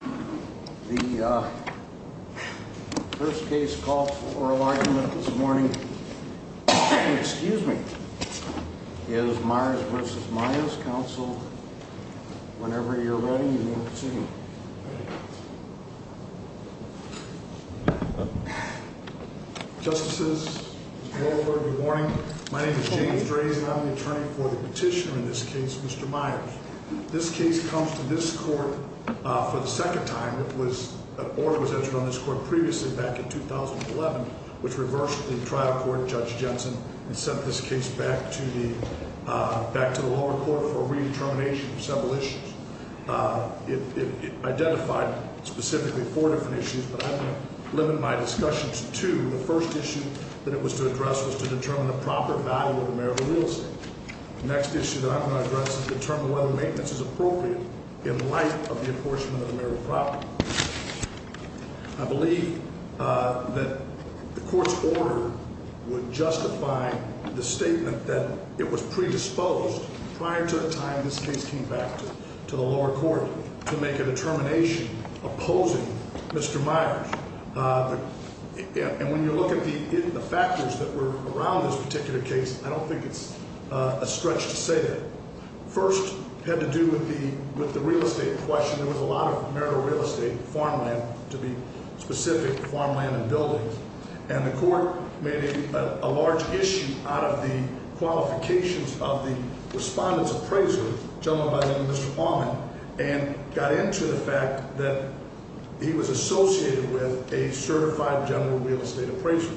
The first case call for oral argument this morning, excuse me, is Myers vs. Myers, counsel. Whenever you're ready, you may proceed. Justice's morning. My name is James Grayson. I'm the attorney for the petitioner in this case, Mr. Myers. This case comes to this court for the second time. It was an order was entered on this court previously back in 2011, which reversed the trial court judge Jensen and sent this case back to the back to the lower court for redetermination for several issues. It identified specifically four different issues, but I'm going to limit my discussions to the first issue that it was to address was to determine the proper value of the mayoral real estate. Next issue that I'm going to address is determine whether maintenance is appropriate in light of the enforcement of the mayoral property. I believe that the court's order would justify the statement that it was predisposed prior to the time this case came back to the lower court to make a determination opposing Mr. Myers. And when you look at the factors that were around this particular case, I don't think it's a stretch to say that first had to do with the with the real estate question. There was a lot of marital real estate farmland to be specific farmland and buildings, and the court made a large issue out of the qualifications of the respondents appraiser, gentleman by the name of Mr. Allman, and got into the fact that he was associated with a certified general real estate appraiser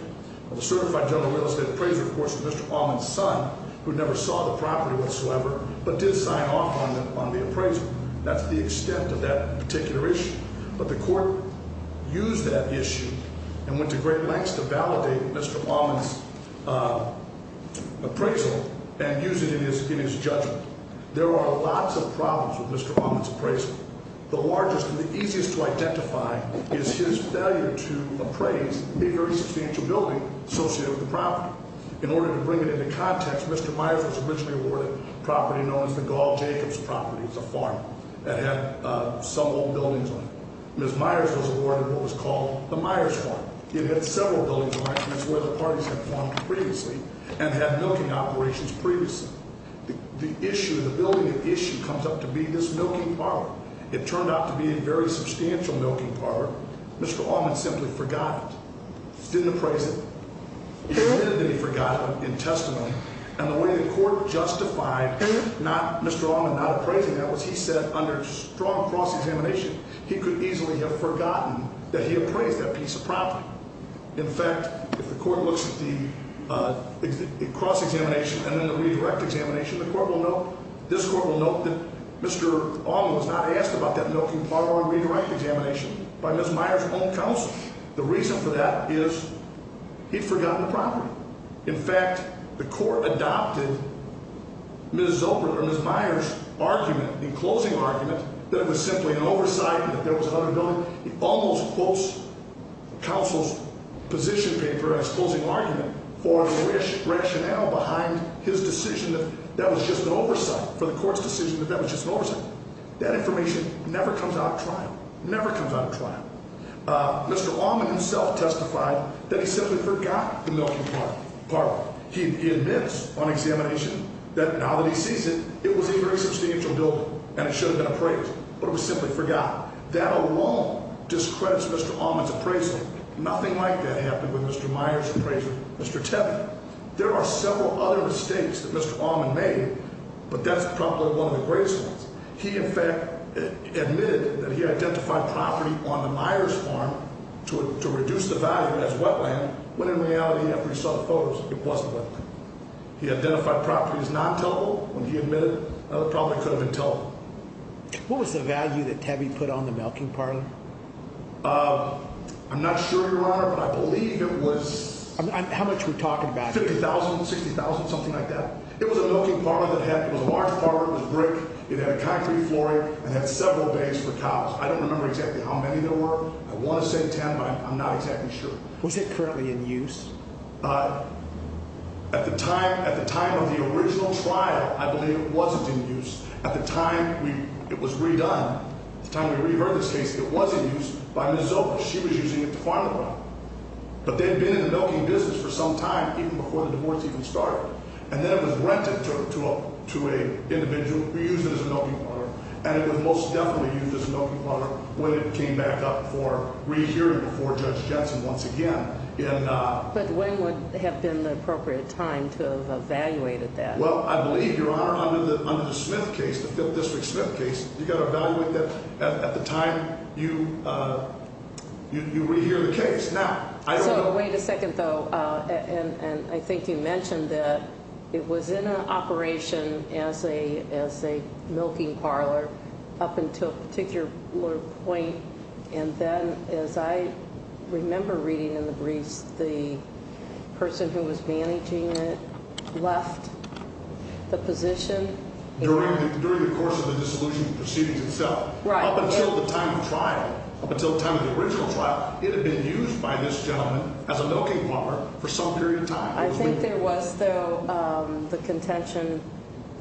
of a certified general real estate appraiser. Of course, Mr. Allman's son, who never saw the property whatsoever, but did sign off on the appraisal. That's the extent of that particular issue. But the court used that issue and went to great lengths to validate Mr. Allman's appraisal and use it in his judgment. There are lots of problems with Mr. Allman's appraisal. The largest and the easiest to identify is his failure to appraise a very substantial building associated with the property. In order to bring it into context, Mr. Myers was originally awarded property known as the Gall-Jacobs property. It's a farm that had some old buildings on it. Ms. Myers was awarded what was called the Myers farm. It had several buildings on it. It's where the parties had farmed previously and had milking operations previously. The building of the issue comes up to be this milking parlor. It turned out to be a very substantial milking parlor. Mr. Allman simply forgot it. He didn't appraise it. He admitted that he forgot it in testimony. And the way the court justified Mr. Allman not appraising that was he said under strong cross-examination, he could easily have forgotten that he appraised that piece of property. In fact, if the court looks at the cross-examination and then the redirect examination, the court will note, this court will note that Mr. Allman was not asked about that milking parlor and redirect examination by Ms. Myers' own counsel. The reason for that is he'd forgotten the property. In fact, the court adopted Ms. Zoper or Ms. Myers' argument, the closing argument, that it was simply an oversight and that there was another building. He almost quotes counsel's position paper as closing argument for the rationale behind his decision that that was just an oversight for the court's decision that that was just an oversight. That information never comes out of trial, never comes out of trial. Mr. Allman himself testified that he simply forgot the milking parlor. He admits on examination that now that he sees it, it was a very substantial building and it should have been appraised, but it was simply forgot. That alone discredits Mr. Allman's appraisal. Nothing like that happened with Mr. Myers' appraisal. Mr. Tebbe, there are several other mistakes that Mr. Allman made, but that's probably one of the greatest ones. He, in fact, admitted that he identified property on the Myers farm to reduce the value as wetland, when in reality, after he saw the photos, it wasn't wetland. He identified property as non-tellable when he admitted. It probably could have been tellable. What was the value that Tebbe put on the milking parlor? I'm not sure, Your Honor, but I believe it was... How much we're talking about? $50,000, $60,000, something like that. It was a milking parlor that had, it was a large parlor, it was brick. It had a concrete flooring and had several bays for cows. I don't remember exactly how many there were. I want to say 10, but I'm not exactly sure. Was it currently in use? At the time, at the time of the original trial, I believe it wasn't in use. At the time, it was redone. At the time we reheard this case, it was in use by Ms. Zoker. She was using it to farm the milk. But they had been in the milking business for some time, even before the divorce even started. And then it was rented to an individual who used it as a milking parlor. And it was most definitely used as a milking parlor when it came back up for rehearing before Judge Jensen once again. But when would have been the appropriate time to have evaluated that? Well, I believe, Your Honor, under the Smith case, the Fifth District Smith case, you've got to evaluate that at the time you rehear the case. Now, I don't know. So wait a second, though. And I think you mentioned that it was in operation as a milking parlor up until a particular point. And then as I remember reading in the briefs, the person who was managing it left the position. During the course of the dissolution proceedings itself. Right. Up until the time of trial, up until the time of the original trial, it had been used by this gentleman as a milking parlor for some period of time. I think there was, though, the contention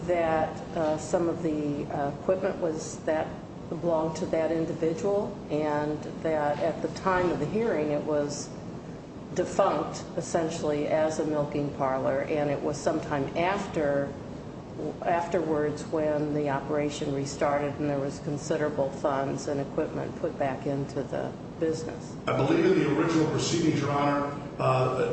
that some of the equipment was that belonged to that individual. And that at the time of the hearing, it was defunct, essentially, as a milking parlor. And it was sometime afterwards when the operation restarted and there was considerable funds and equipment put back into the business. I believe in the original proceedings, Your Honor,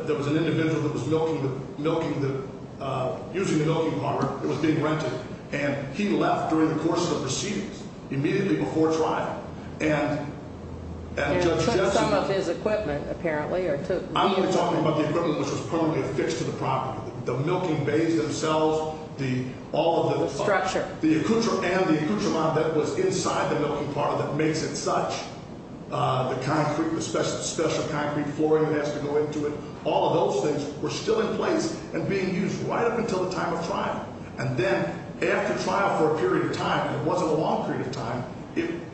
there was an individual that was milking the – using the milking parlor. It was being rented. And he left during the course of the proceedings, immediately before trial. And – And took some of his equipment, apparently, or took – I'm only talking about the equipment which was permanently affixed to the property. The milking bays themselves, the – all of the – The structure. The accoutrement that was inside the milking parlor that makes it such. The concrete, the special concrete flooring that has to go into it. All of those things were still in place and being used right up until the time of trial. And then after trial for a period of time, and it wasn't a long period of time,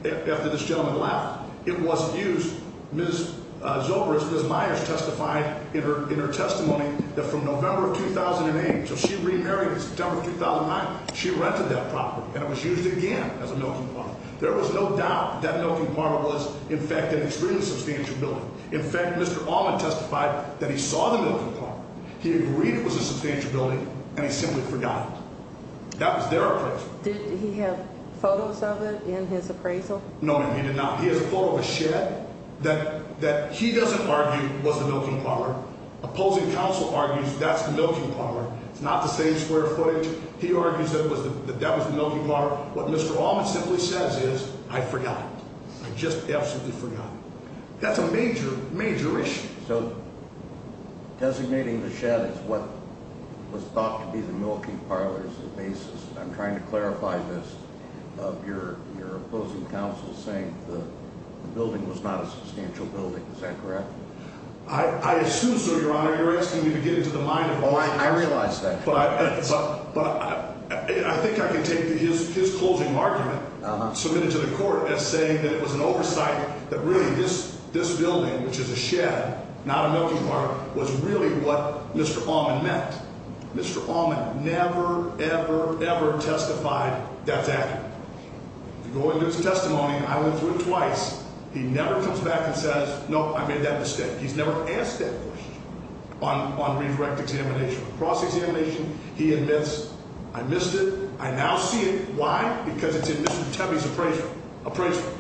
after this gentleman left, it wasn't used. Ms. Zobris, Ms. Myers testified in her testimony that from November of 2008 – so she remarried in September of 2009. She rented that property, and it was used again as a milking parlor. There was no doubt that milking parlor was, in fact, an extremely substantial building. In fact, Mr. Allman testified that he saw the milking parlor, he agreed it was a substantial building, and he simply forgot it. That was their appraisal. Did he have photos of it in his appraisal? No, ma'am, he did not. He has a photo of a shed that – that he doesn't argue was the milking parlor. Opposing counsel argues that's the milking parlor. It's not the same square footage. He argues that that was the milking parlor. What Mr. Allman simply says is, I forgot it. I just absolutely forgot it. That's a major, major issue. So designating the shed is what was thought to be the milking parlor's basis. I'm trying to clarify this, of your opposing counsel saying the building was not a substantial building. Is that correct? I assume so, Your Honor. You're asking me to get into the mind of – Oh, I realize that. But I think I can take his closing argument submitted to the court as saying that it was an oversight, that really this building, which is a shed, not a milking parlor, was really what Mr. Allman meant. Mr. Allman never, ever, ever testified that's accurate. You go into his testimony, and I went through it twice. He never comes back and says, no, I made that mistake. He's never asked that question on redirect examination. On cross-examination, he admits, I missed it. I now see it. Why? Because it's in Mr. Tebbe's appraisal.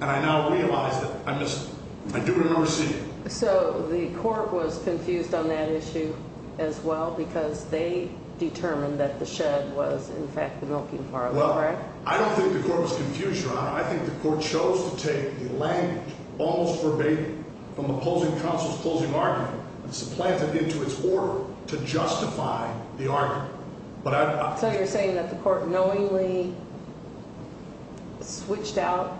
And I now realize that I missed it. I do remember seeing it. So the court was confused on that issue as well because they determined that the shed was, in fact, the milking parlor. Well, I don't think the court was confused, Your Honor. I think the court chose to take the language almost verbatim from the opposing counsel's closing argument and supplant it into its order to justify the argument. So you're saying that the court knowingly switched out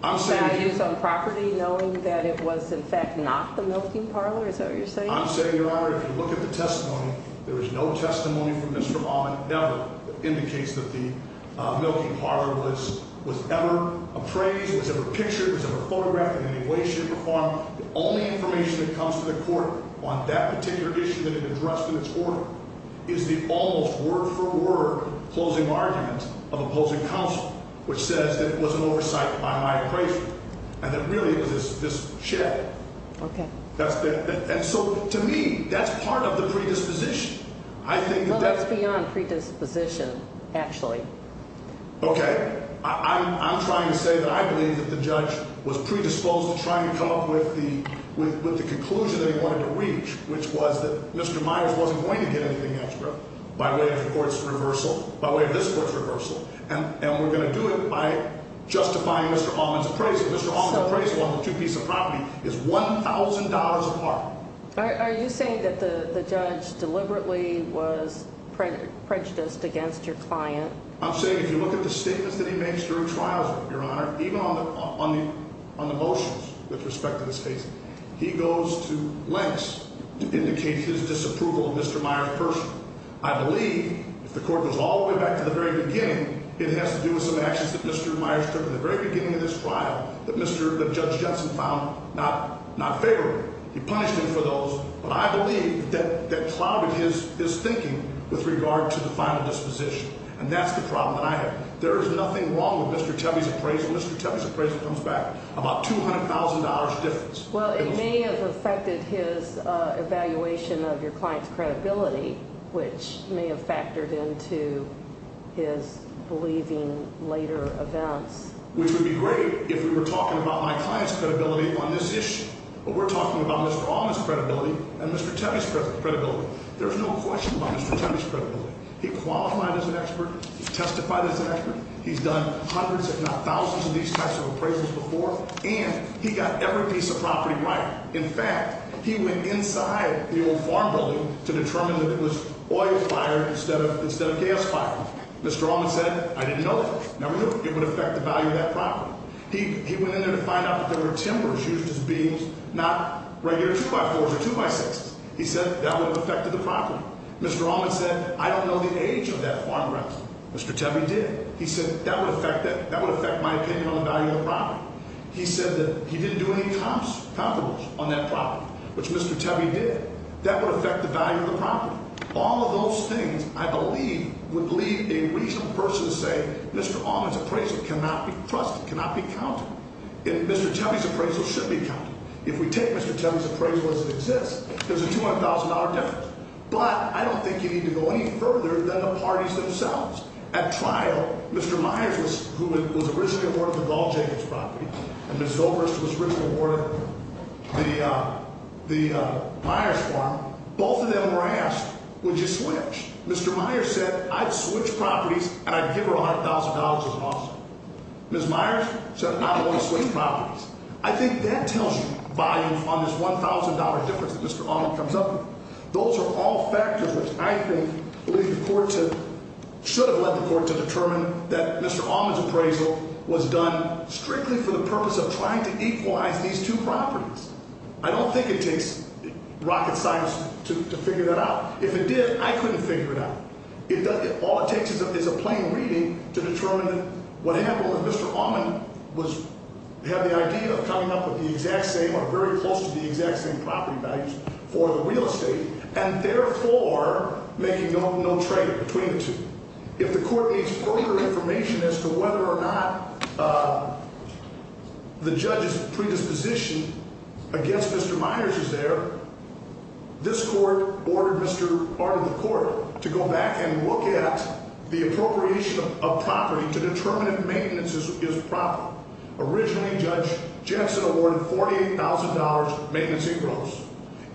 values on property knowing that it was, in fact, not the milking parlor? Is that what you're saying? I'm saying, Your Honor, if you look at the testimony, there was no testimony from Mr. Allman. The testimony never indicates that the milking parlor was ever appraised, was ever pictured, was ever photographed in any way, shape, or form. The only information that comes to the court on that particular issue that it addressed in its order is the almost word-for-word closing argument of opposing counsel, which says that it was an oversight by my appraisal and that really it was this shed. Okay. And so, to me, that's part of the predisposition. Well, that's beyond predisposition, actually. Okay. I'm trying to say that I believe that the judge was predisposed to try and come up with the conclusion that he wanted to reach, which was that Mr. Myers wasn't going to get anything extra by way of the court's reversal, by way of this court's reversal. And we're going to do it by justifying Mr. Allman's appraisal. Mr. Allman's appraisal on the two pieces of property is $1,000 apart. Are you saying that the judge deliberately was prejudiced against your client? I'm saying if you look at the statements that he makes during trials, Your Honor, even on the motions with respect to this case, he goes to lengths to indicate his disapproval of Mr. Myers personally. I believe, if the court goes all the way back to the very beginning, it has to do with some actions that Mr. Myers took at the very beginning of this trial that Judge Judson found not favorable. He punished him for those, but I believe that clouded his thinking with regard to the final disposition, and that's the problem that I have. There is nothing wrong with Mr. Tebbe's appraisal. Mr. Tebbe's appraisal comes back about $200,000 difference. Well, it may have affected his evaluation of your client's credibility, which may have factored into his believing later events. Which would be great if we were talking about my client's credibility on this issue. But we're talking about Mr. Allman's credibility and Mr. Tebbe's credibility. There's no question about Mr. Tebbe's credibility. He qualified as an expert. He testified as an expert. He's done hundreds, if not thousands, of these types of appraisals before, and he got every piece of property right. In fact, he went inside the old farm building to determine that it was oil fired instead of gas fired. Mr. Allman said, I didn't know that. Never knew it would affect the value of that property. He went in there to find out that there were timbers used as beams, not regular 2x4s or 2x6s. He said that would have affected the property. Mr. Allman said, I don't know the age of that farm rental. Mr. Tebbe did. He said that would affect my opinion on the value of the property. He said that he didn't do any comps on that property, which Mr. Tebbe did. That would affect the value of the property. All of those things, I believe, would leave a reasonable person to say, Mr. Allman's appraisal cannot be trusted, cannot be counted. And Mr. Tebbe's appraisal should be counted. If we take Mr. Tebbe's appraisal as it exists, there's a $200,000 difference. But I don't think you need to go any further than the parties themselves. At trial, Mr. Myers, who was originally awarded the Gull Jacobs property, and Ms. Zobrist, who was originally awarded the Myers farm, both of them were asked, would you switch? Mr. Myers said, I'd switch properties and I'd give her $100,000 as an offer. Ms. Myers said, I don't want to switch properties. I think that tells you volumes on this $1,000 difference that Mr. Allman comes up with. Those are all factors which I think should have led the court to determine that Mr. Allman's appraisal was done strictly for the purpose of trying to equalize these two properties. I don't think it takes rocket science to figure that out. If it did, I couldn't figure it out. All it takes is a plain reading to determine what happened when Mr. Allman had the idea of coming up with the exact same or very close to the exact same property values for the real estate, and therefore making no trade between the two. If the court needs further information as to whether or not the judge's predisposition against Mr. Myers is there, this court ordered Mr. Art of the Court to go back and look at the appropriation of property to determine if maintenance is proper. Originally, Judge Jensen awarded $48,000 maintenance and gross,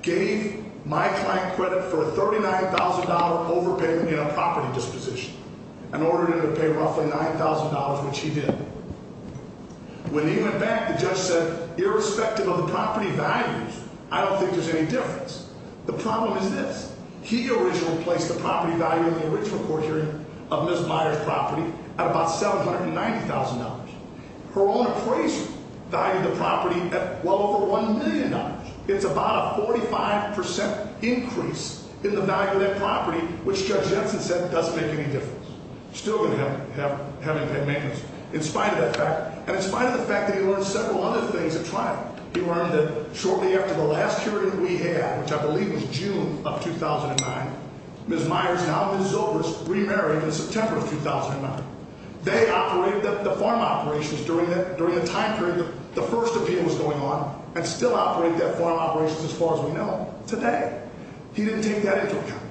gave my client credit for a $39,000 overpayment in a property disposition, and ordered him to pay roughly $9,000, which he did. When he went back, the judge said, irrespective of the property values, I don't think there's any difference. The problem is this. He originally placed the property value in the original court hearing of Ms. Myers' property at about $790,000. Her own appraiser valued the property at well over $1 million. It's about a 45% increase in the value of that property, which Judge Jensen said doesn't make any difference. Still going to have him pay maintenance, in spite of that fact, and in spite of the fact that he learned several other things at trial. He learned that shortly after the last hearing we had, which I believe was June of 2009, Ms. Myers and Alvin Zobris remarried in September of 2009. They operated the farm operations during the time period the first appeal was going on, and still operate that farm operations as far as we know today. He didn't take that into account.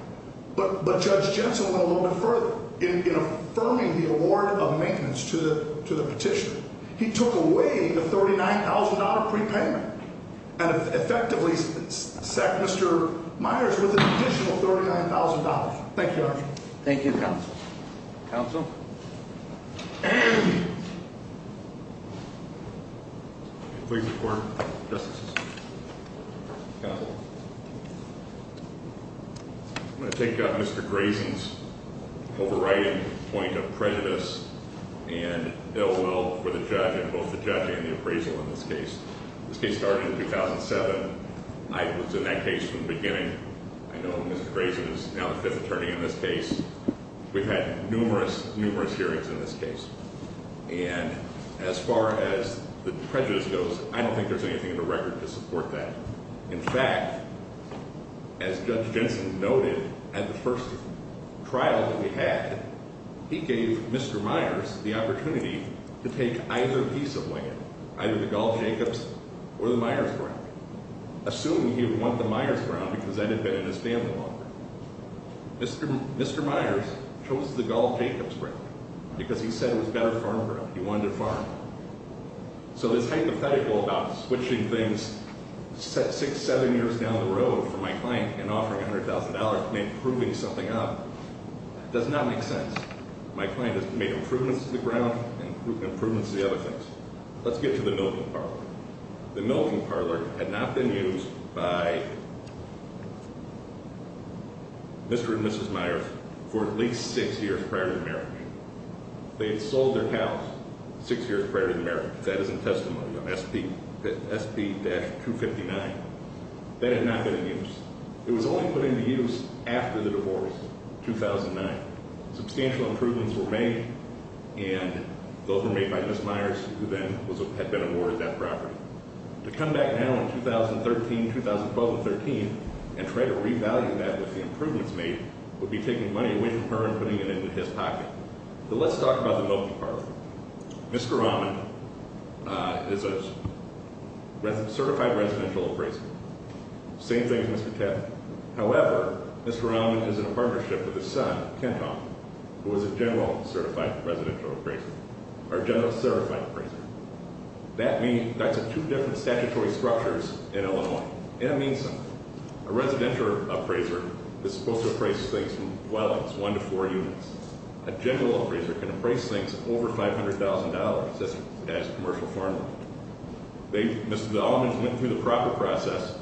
But Judge Jensen went a little bit further in affirming the award of maintenance to the petitioner. He took away the $39,000 prepayment and effectively sacked Mr. Myers with an additional $39,000. Thank you, Your Honor. Thank you, Counsel. Counsel? Please report. I'm going to take Mr. Grayson's overriding point of prejudice and ill will for the judge and both the judge and the appraisal in this case. This case started in 2007. I was in that case from the beginning. I know Mr. Grayson is now the fifth attorney in this case. We've had numerous, numerous hearings in this case. And as far as the prejudice goes, I don't think there's anything in the record to support that. In fact, as Judge Jensen noted at the first trial that we had, he gave Mr. Myers the opportunity to take either piece of land, either the Gall-Jacobs or the Myers ground, assuming he would want the Myers ground because that had been in his family longer. Mr. Myers chose the Gall-Jacobs ground because he said it was a better farm ground. He wanted to farm. So this hypothetical about switching things six, seven years down the road for my client and offering $100,000 and improving something up does not make sense. My client has made improvements to the ground and improvements to the other things. Let's get to the milking parlor. The milking parlor had not been used by Mr. and Mrs. Myers for at least six years prior to the marriage. They had sold their cows six years prior to the marriage. That is a testimony of SP-259. That had not been in use. It was only put into use after the divorce, 2009. Substantial improvements were made, and those were made by Mrs. Myers, who then had been awarded that property. To come back now in 2013, 2012, and 2013 and try to revalue that with the improvements made would be taking money away from her and putting it into his pocket. So let's talk about the milking parlor. Mr. Rahman is a certified residential appraiser. Same thing as Mr. Tefft. However, Mr. Rahman is in a partnership with his son, Kent Almond, who is a general certified residential appraiser, or general certified appraiser. That's two different statutory structures in Illinois, and it means something. A residential appraiser is supposed to appraise things from dwellings, one to four units. A general appraiser can appraise things over $500,000, as commercial farmland. Mr. Almond went through the proper process.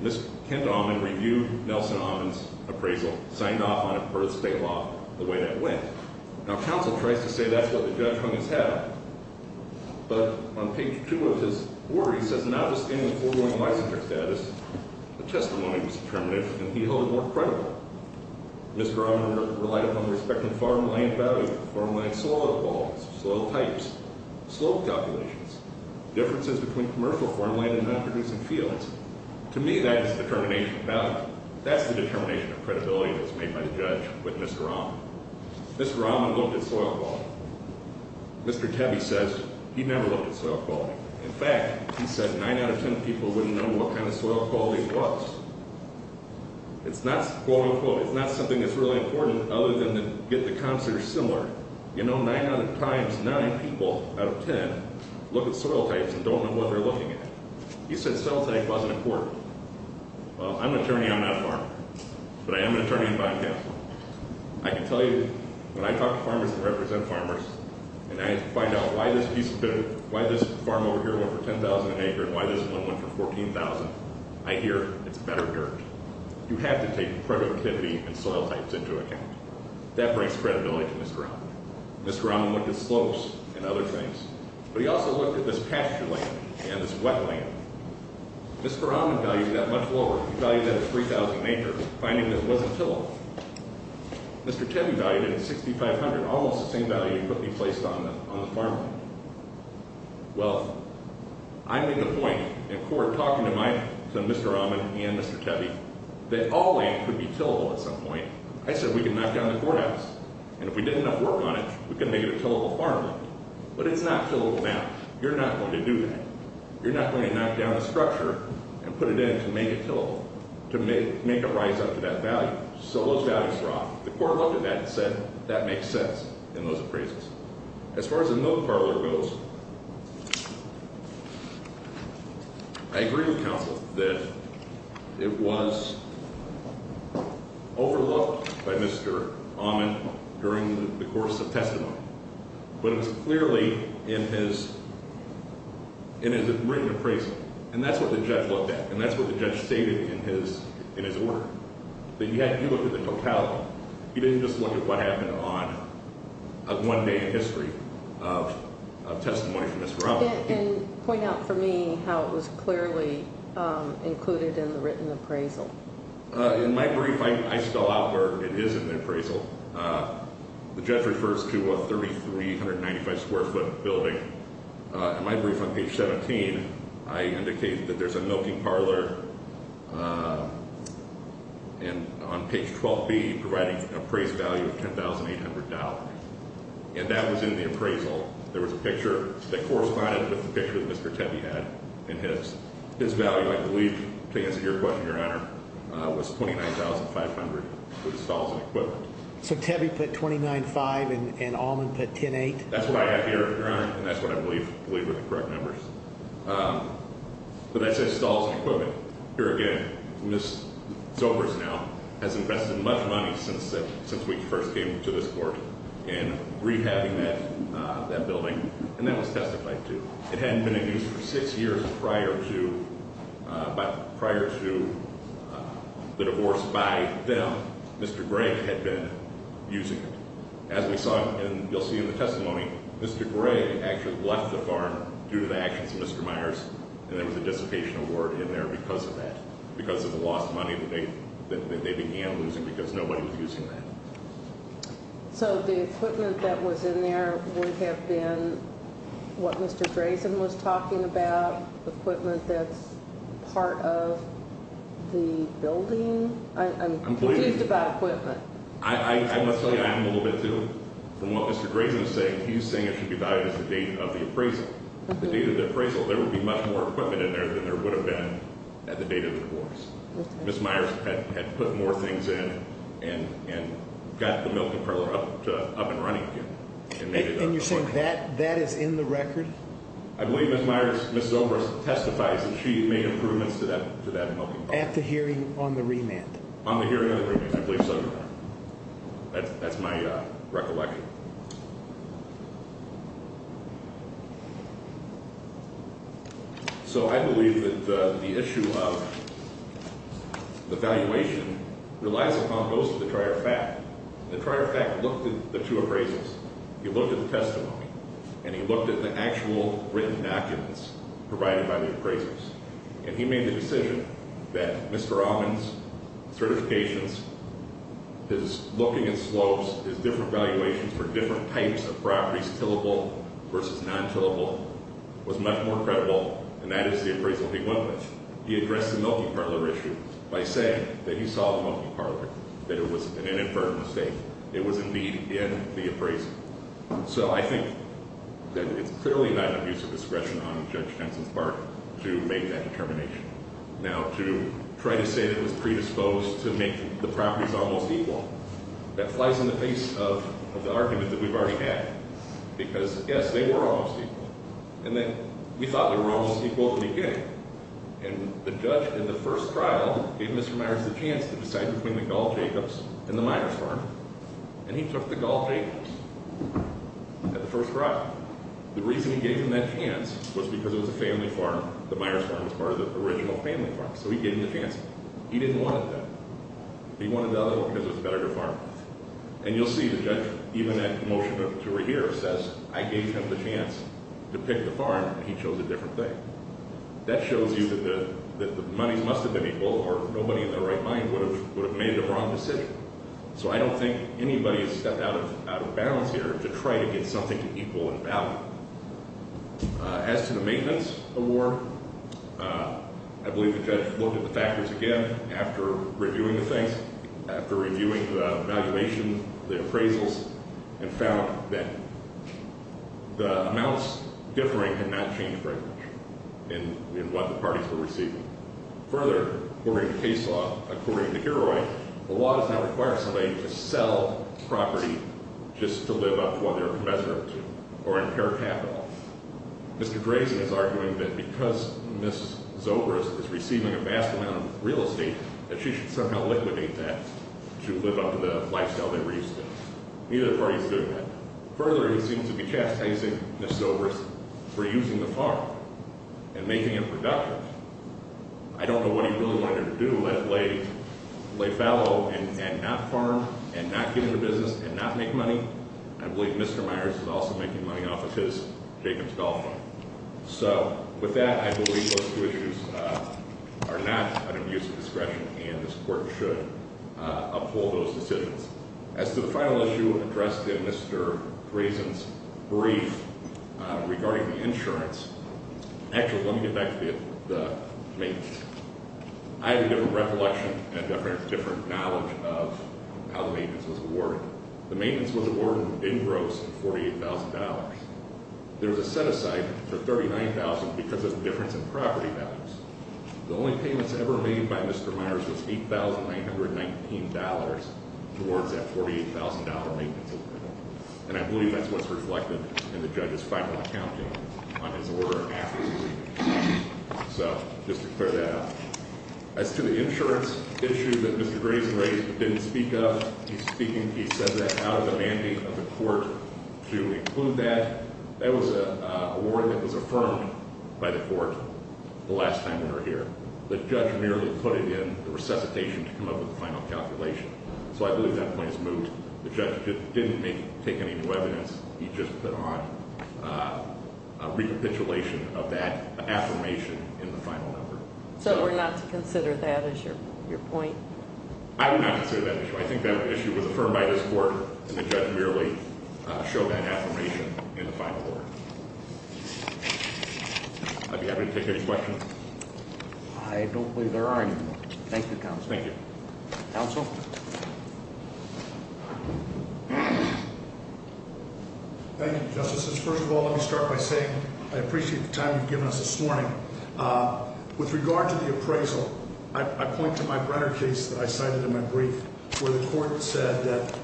Ms. Kent Almond reviewed Nelson Almond's appraisal, signed off on it per the state law the way that went. Now, counsel tries to say that's what the judge hung his hat on. But on page 2 of his order, he says, notwithstanding the foregoing licensure status, the testimony was determinative, and he held it more credible. Mr. Rahman relied upon the respective farmland value, farmland soil quality, soil types, slope calculations, differences between commercial farmland and non-producing fields. To me, that is the determination of value. That's the determination of credibility that's made by the judge with Mr. Rahman. Mr. Rahman looked at soil quality. Mr. Tefft says he never looked at soil quality. In fact, he said 9 out of 10 people wouldn't know what kind of soil quality it was. It's not, quote, unquote, it's not something that's really important other than to get the counselor similar. You know, 9 times 9 people out of 10 look at soil types and don't know what they're looking at. He said soil type wasn't important. Well, I'm an attorney. I'm not a farmer. But I am an attorney and bond counselor. I can tell you, when I talk to farmers and represent farmers, and I find out why this farm over here went for $10,000 an acre and why this one went for $14,000, I hear it's better dirt. You have to take productivity and soil types into account. That brings credibility to Mr. Rahman. Mr. Rahman looked at slopes and other things, but he also looked at this pasture land and this wetland. Mr. Rahman valued that much lower. He valued that at $3,000 an acre, finding this wasn't tillable. Mr. Tefft valued it at $6,500, almost the same value he quickly placed on the farmland. Well, I made the point in court, talking to Mr. Rahman and Mr. Tefft, that all land could be tillable at some point. I said we could knock down the courthouse, and if we did enough work on it, we could make it a tillable farmland. But it's not tillable now. You're not going to do that. You're not going to knock down the structure and put it in to make it tillable, to make it rise up to that value. So those values were off. The court looked at that and said that makes sense in those appraisals. As far as the milk parlor goes, I agree with counsel that it was overlooked by Mr. Ahman during the course of testimony, but it was clearly in his written appraisal. And that's what the judge looked at, and that's what the judge stated in his order, that he had to look at the totality. He didn't just look at what happened on one day in history of testimony from Mr. Rahman. And point out for me how it was clearly included in the written appraisal. In my brief, I spell out where it is in the appraisal. The judge refers to a 3,395-square-foot building. In my brief on page 17, I indicated that there's a milking parlor on page 12B providing appraised value of $10,800. And that was in the appraisal. There was a picture that corresponded with the picture that Mr. Tebbe had in his. His value, I believe, to answer your question, Your Honor, was $29,500 for the stalls and equipment. So Tebbe put $29,500 and Ahman put $10,800? That's what I got here, Your Honor, and that's what I believe were the correct numbers. But I said stalls and equipment. Here again, Ms. Zobers now has invested much money since we first came to this court in rehabbing that building, and that was testified to. It hadn't been in use for six years prior to the divorce by them. Mr. Gregg had been using it. As we saw, and you'll see in the testimony, Mr. Gregg actually left the farm due to the actions of Mr. Myers, and there was a dissipation award in there because of that, because of the lost money that they began losing because nobody was using that. So the equipment that was in there would have been what Mr. Drazen was talking about, equipment that's part of the building? I'm confused about equipment. I must tell you, I am a little bit too. From what Mr. Drazen is saying, he's saying it should be valued as the date of the appraisal. At the date of the appraisal, there would be much more equipment in there than there would have been at the date of the divorce. Ms. Myers had put more things in and got the milking parlor up and running again. And you're saying that is in the record? I believe Ms. Zobers testifies that she made improvements to that milking parlor. At the hearing on the remand? On the hearing on the remand, I believe so, Your Honor. That's my recollection. So I believe that the issue of the valuation relies upon most of the prior fact. The prior fact looked at the two appraisals. He looked at the testimony, and he looked at the actual written documents provided by the appraisals, and he made the decision that Mr. Robbins' certifications, his looking at slopes, his different valuations for different types of properties, tillable versus non-tillable, was much more credible, and that is the appraisal he went with. He addressed the milking parlor issue by saying that he saw the milking parlor, that it was an inadvertent mistake. It was indeed in the appraisal. So I think that it's clearly not an abuse of discretion on Judge Henson's part to make that determination. Now, to try to say that it was predisposed to make the properties almost equal, that flies in the face of the argument that we've already had, because, yes, they were almost equal, and that we thought they were almost equal at the beginning, and the judge in the first trial gave Mr. Myers the chance to decide between the Gall-Jacobs and the Myers farm, and he took the Gall-Jacobs at the first trial. The reason he gave him that chance was because it was a family farm. The Myers farm was part of the original family farm, so he gave him the chance. He didn't want it, though. He wanted the other one because it was a better-to-farm. And you'll see the judge, even at the motion to rehearse, says, I gave him the chance to pick the farm, and he chose a different thing. That shows you that the monies must have been equal, or nobody in their right mind would have made the wrong decision. So I don't think anybody has stepped out of bounds here to try to get something equal in value. As to the maintenance award, I believe the judge looked at the factors again after reviewing the things, after reviewing the evaluation, the appraisals, and found that the amounts differing had not changed very much in what the parties were receiving. Further, according to case law, according to Heroine, the law does not require somebody to sell property just to live up to what they're commensurate to, or impair capital. Mr. Grayson is arguing that because Ms. Zobris is receiving a vast amount of real estate, that she should somehow liquidate that to live up to the lifestyle they were used to. Neither party is doing that. Further, he seems to be chastising Ms. Zobris for using the farm and making it productive. I don't know what he really wanted her to do, lay fallow and not farm, and not get into business, and not make money. I believe Mr. Myers is also making money off of his Jacobs Golf Club. So, with that, I believe those two issues are not under mutual discretion, and this court should uphold those decisions. As to the final issue addressed in Mr. Grayson's brief regarding the insurance, actually, let me get back to the maintenance. I have a different recollection and a different knowledge of how the maintenance was awarded. The maintenance was awarded in gross at $48,000. There was a set aside for $39,000 because of the difference in property values. The only payments ever made by Mr. Myers was $8,919 towards that $48,000 maintenance agreement. And I believe that's what's reflected in the judge's final accounting on his order after his brief. So, just to clear that up. As to the insurance issue that Mr. Grayson didn't speak of, he's speaking, he said that out of the mandate of the court to include that. That was an award that was affirmed by the court the last time we were here. The judge merely put it in the resuscitation to come up with the final calculation. So, I believe that point is moved. The judge didn't take any new evidence. He just put on a recapitulation of that affirmation in the final order. So, we're not to consider that as your point? I would not consider that an issue. I think that issue was affirmed by this court, and the judge merely showed that affirmation in the final order. I'd be happy to take any questions. I don't believe there are any more. Thank you, counsel. Thank you. Counsel? Thank you, Justices. First of all, let me start by saying I appreciate the time you've given us this morning. With regard to the appraisal, I point to my Brenner case that I cited in my brief, where the court said that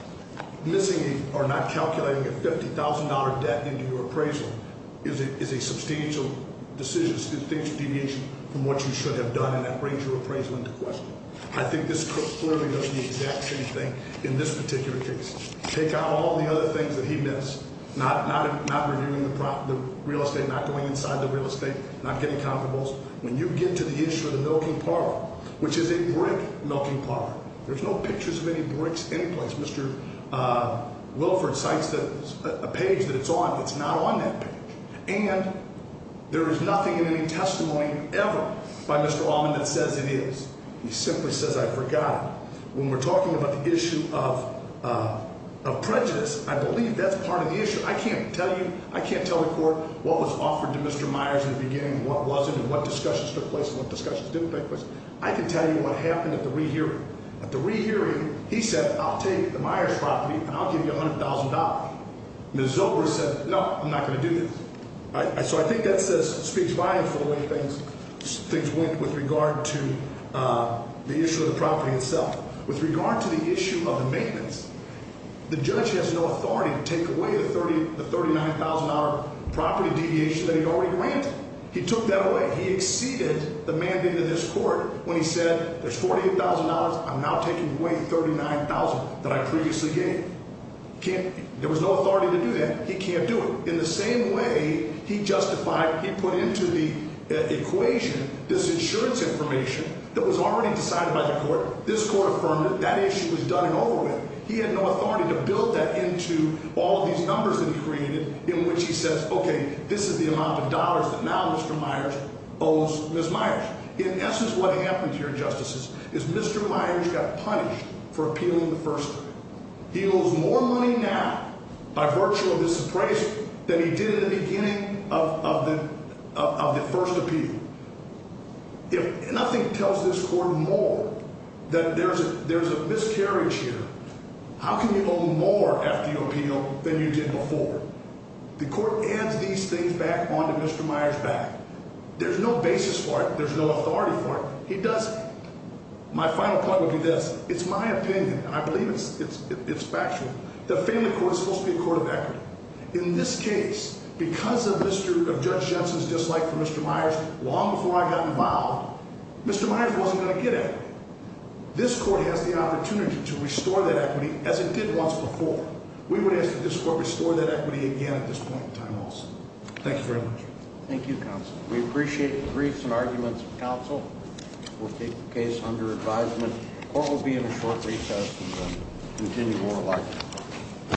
missing or not calculating a $50,000 debt into your appraisal is a substantial decision, a substantial deviation from what you should have done, and that brings your appraisal into question. I think this court clearly knows the exact same thing in this particular case. Take out all the other things that he missed, not reviewing the real estate, not going inside the real estate, not getting comparables. When you get to the issue of the milking parlor, which is a brick milking parlor, there's no pictures of any bricks anyplace. Mr. Wilford cites a page that it's on that's not on that page, and there is nothing in any testimony ever by Mr. Allman that says it is. He simply says, I forgot it. When we're talking about the issue of prejudice, I believe that's part of the issue. I can't tell you, I can't tell the court what was offered to Mr. Myers in the beginning and what wasn't and what discussions took place and what discussions didn't take place. I can tell you what happened at the re-hearing. At the re-hearing, he said, I'll take the Myers property and I'll give you $100,000. Ms. Zobro said, no, I'm not going to do this. So I think that speaks volumes for the way things went with regard to the issue of the property itself. With regard to the issue of the maintenance, the judge has no authority to take away the $39,000 property deviation that he already granted. He took that away. He exceeded the mandate of this court when he said, there's $48,000, I'm now taking away $39,000 that I previously gave. There was no authority to do that. He can't do it. In the same way, he justified, he put into the equation this insurance information that was already decided by the court. This court affirmed it. That issue was done and over with. He had no authority to build that into all of these numbers that he created in which he says, okay, this is the amount of dollars that now Mr. Myers owes Ms. Myers. In essence, what happened here, Justices, is Mr. Myers got punished for appealing the first time. He owes more money now by virtue of this appraisal than he did in the beginning of the first appeal. If nothing tells this court more that there's a miscarriage here, how can you owe more after you appeal than you did before? The court adds these things back onto Mr. Myers' back. There's no basis for it. There's no authority for it. He doesn't. My final point would be this. It's my opinion. I believe it's factual. The family court is supposed to be a court of equity. In this case, because of Judge Jensen's dislike for Mr. Myers long before I got involved, Mr. Myers wasn't going to get equity. This court has the opportunity to restore that equity as it did once before. We would ask that this court restore that equity again at this point in time also. Thank you very much. Thank you, counsel. We appreciate the briefs and arguments of counsel. We'll take the case under advisement. The court will be in a short recess and continue oral arguments.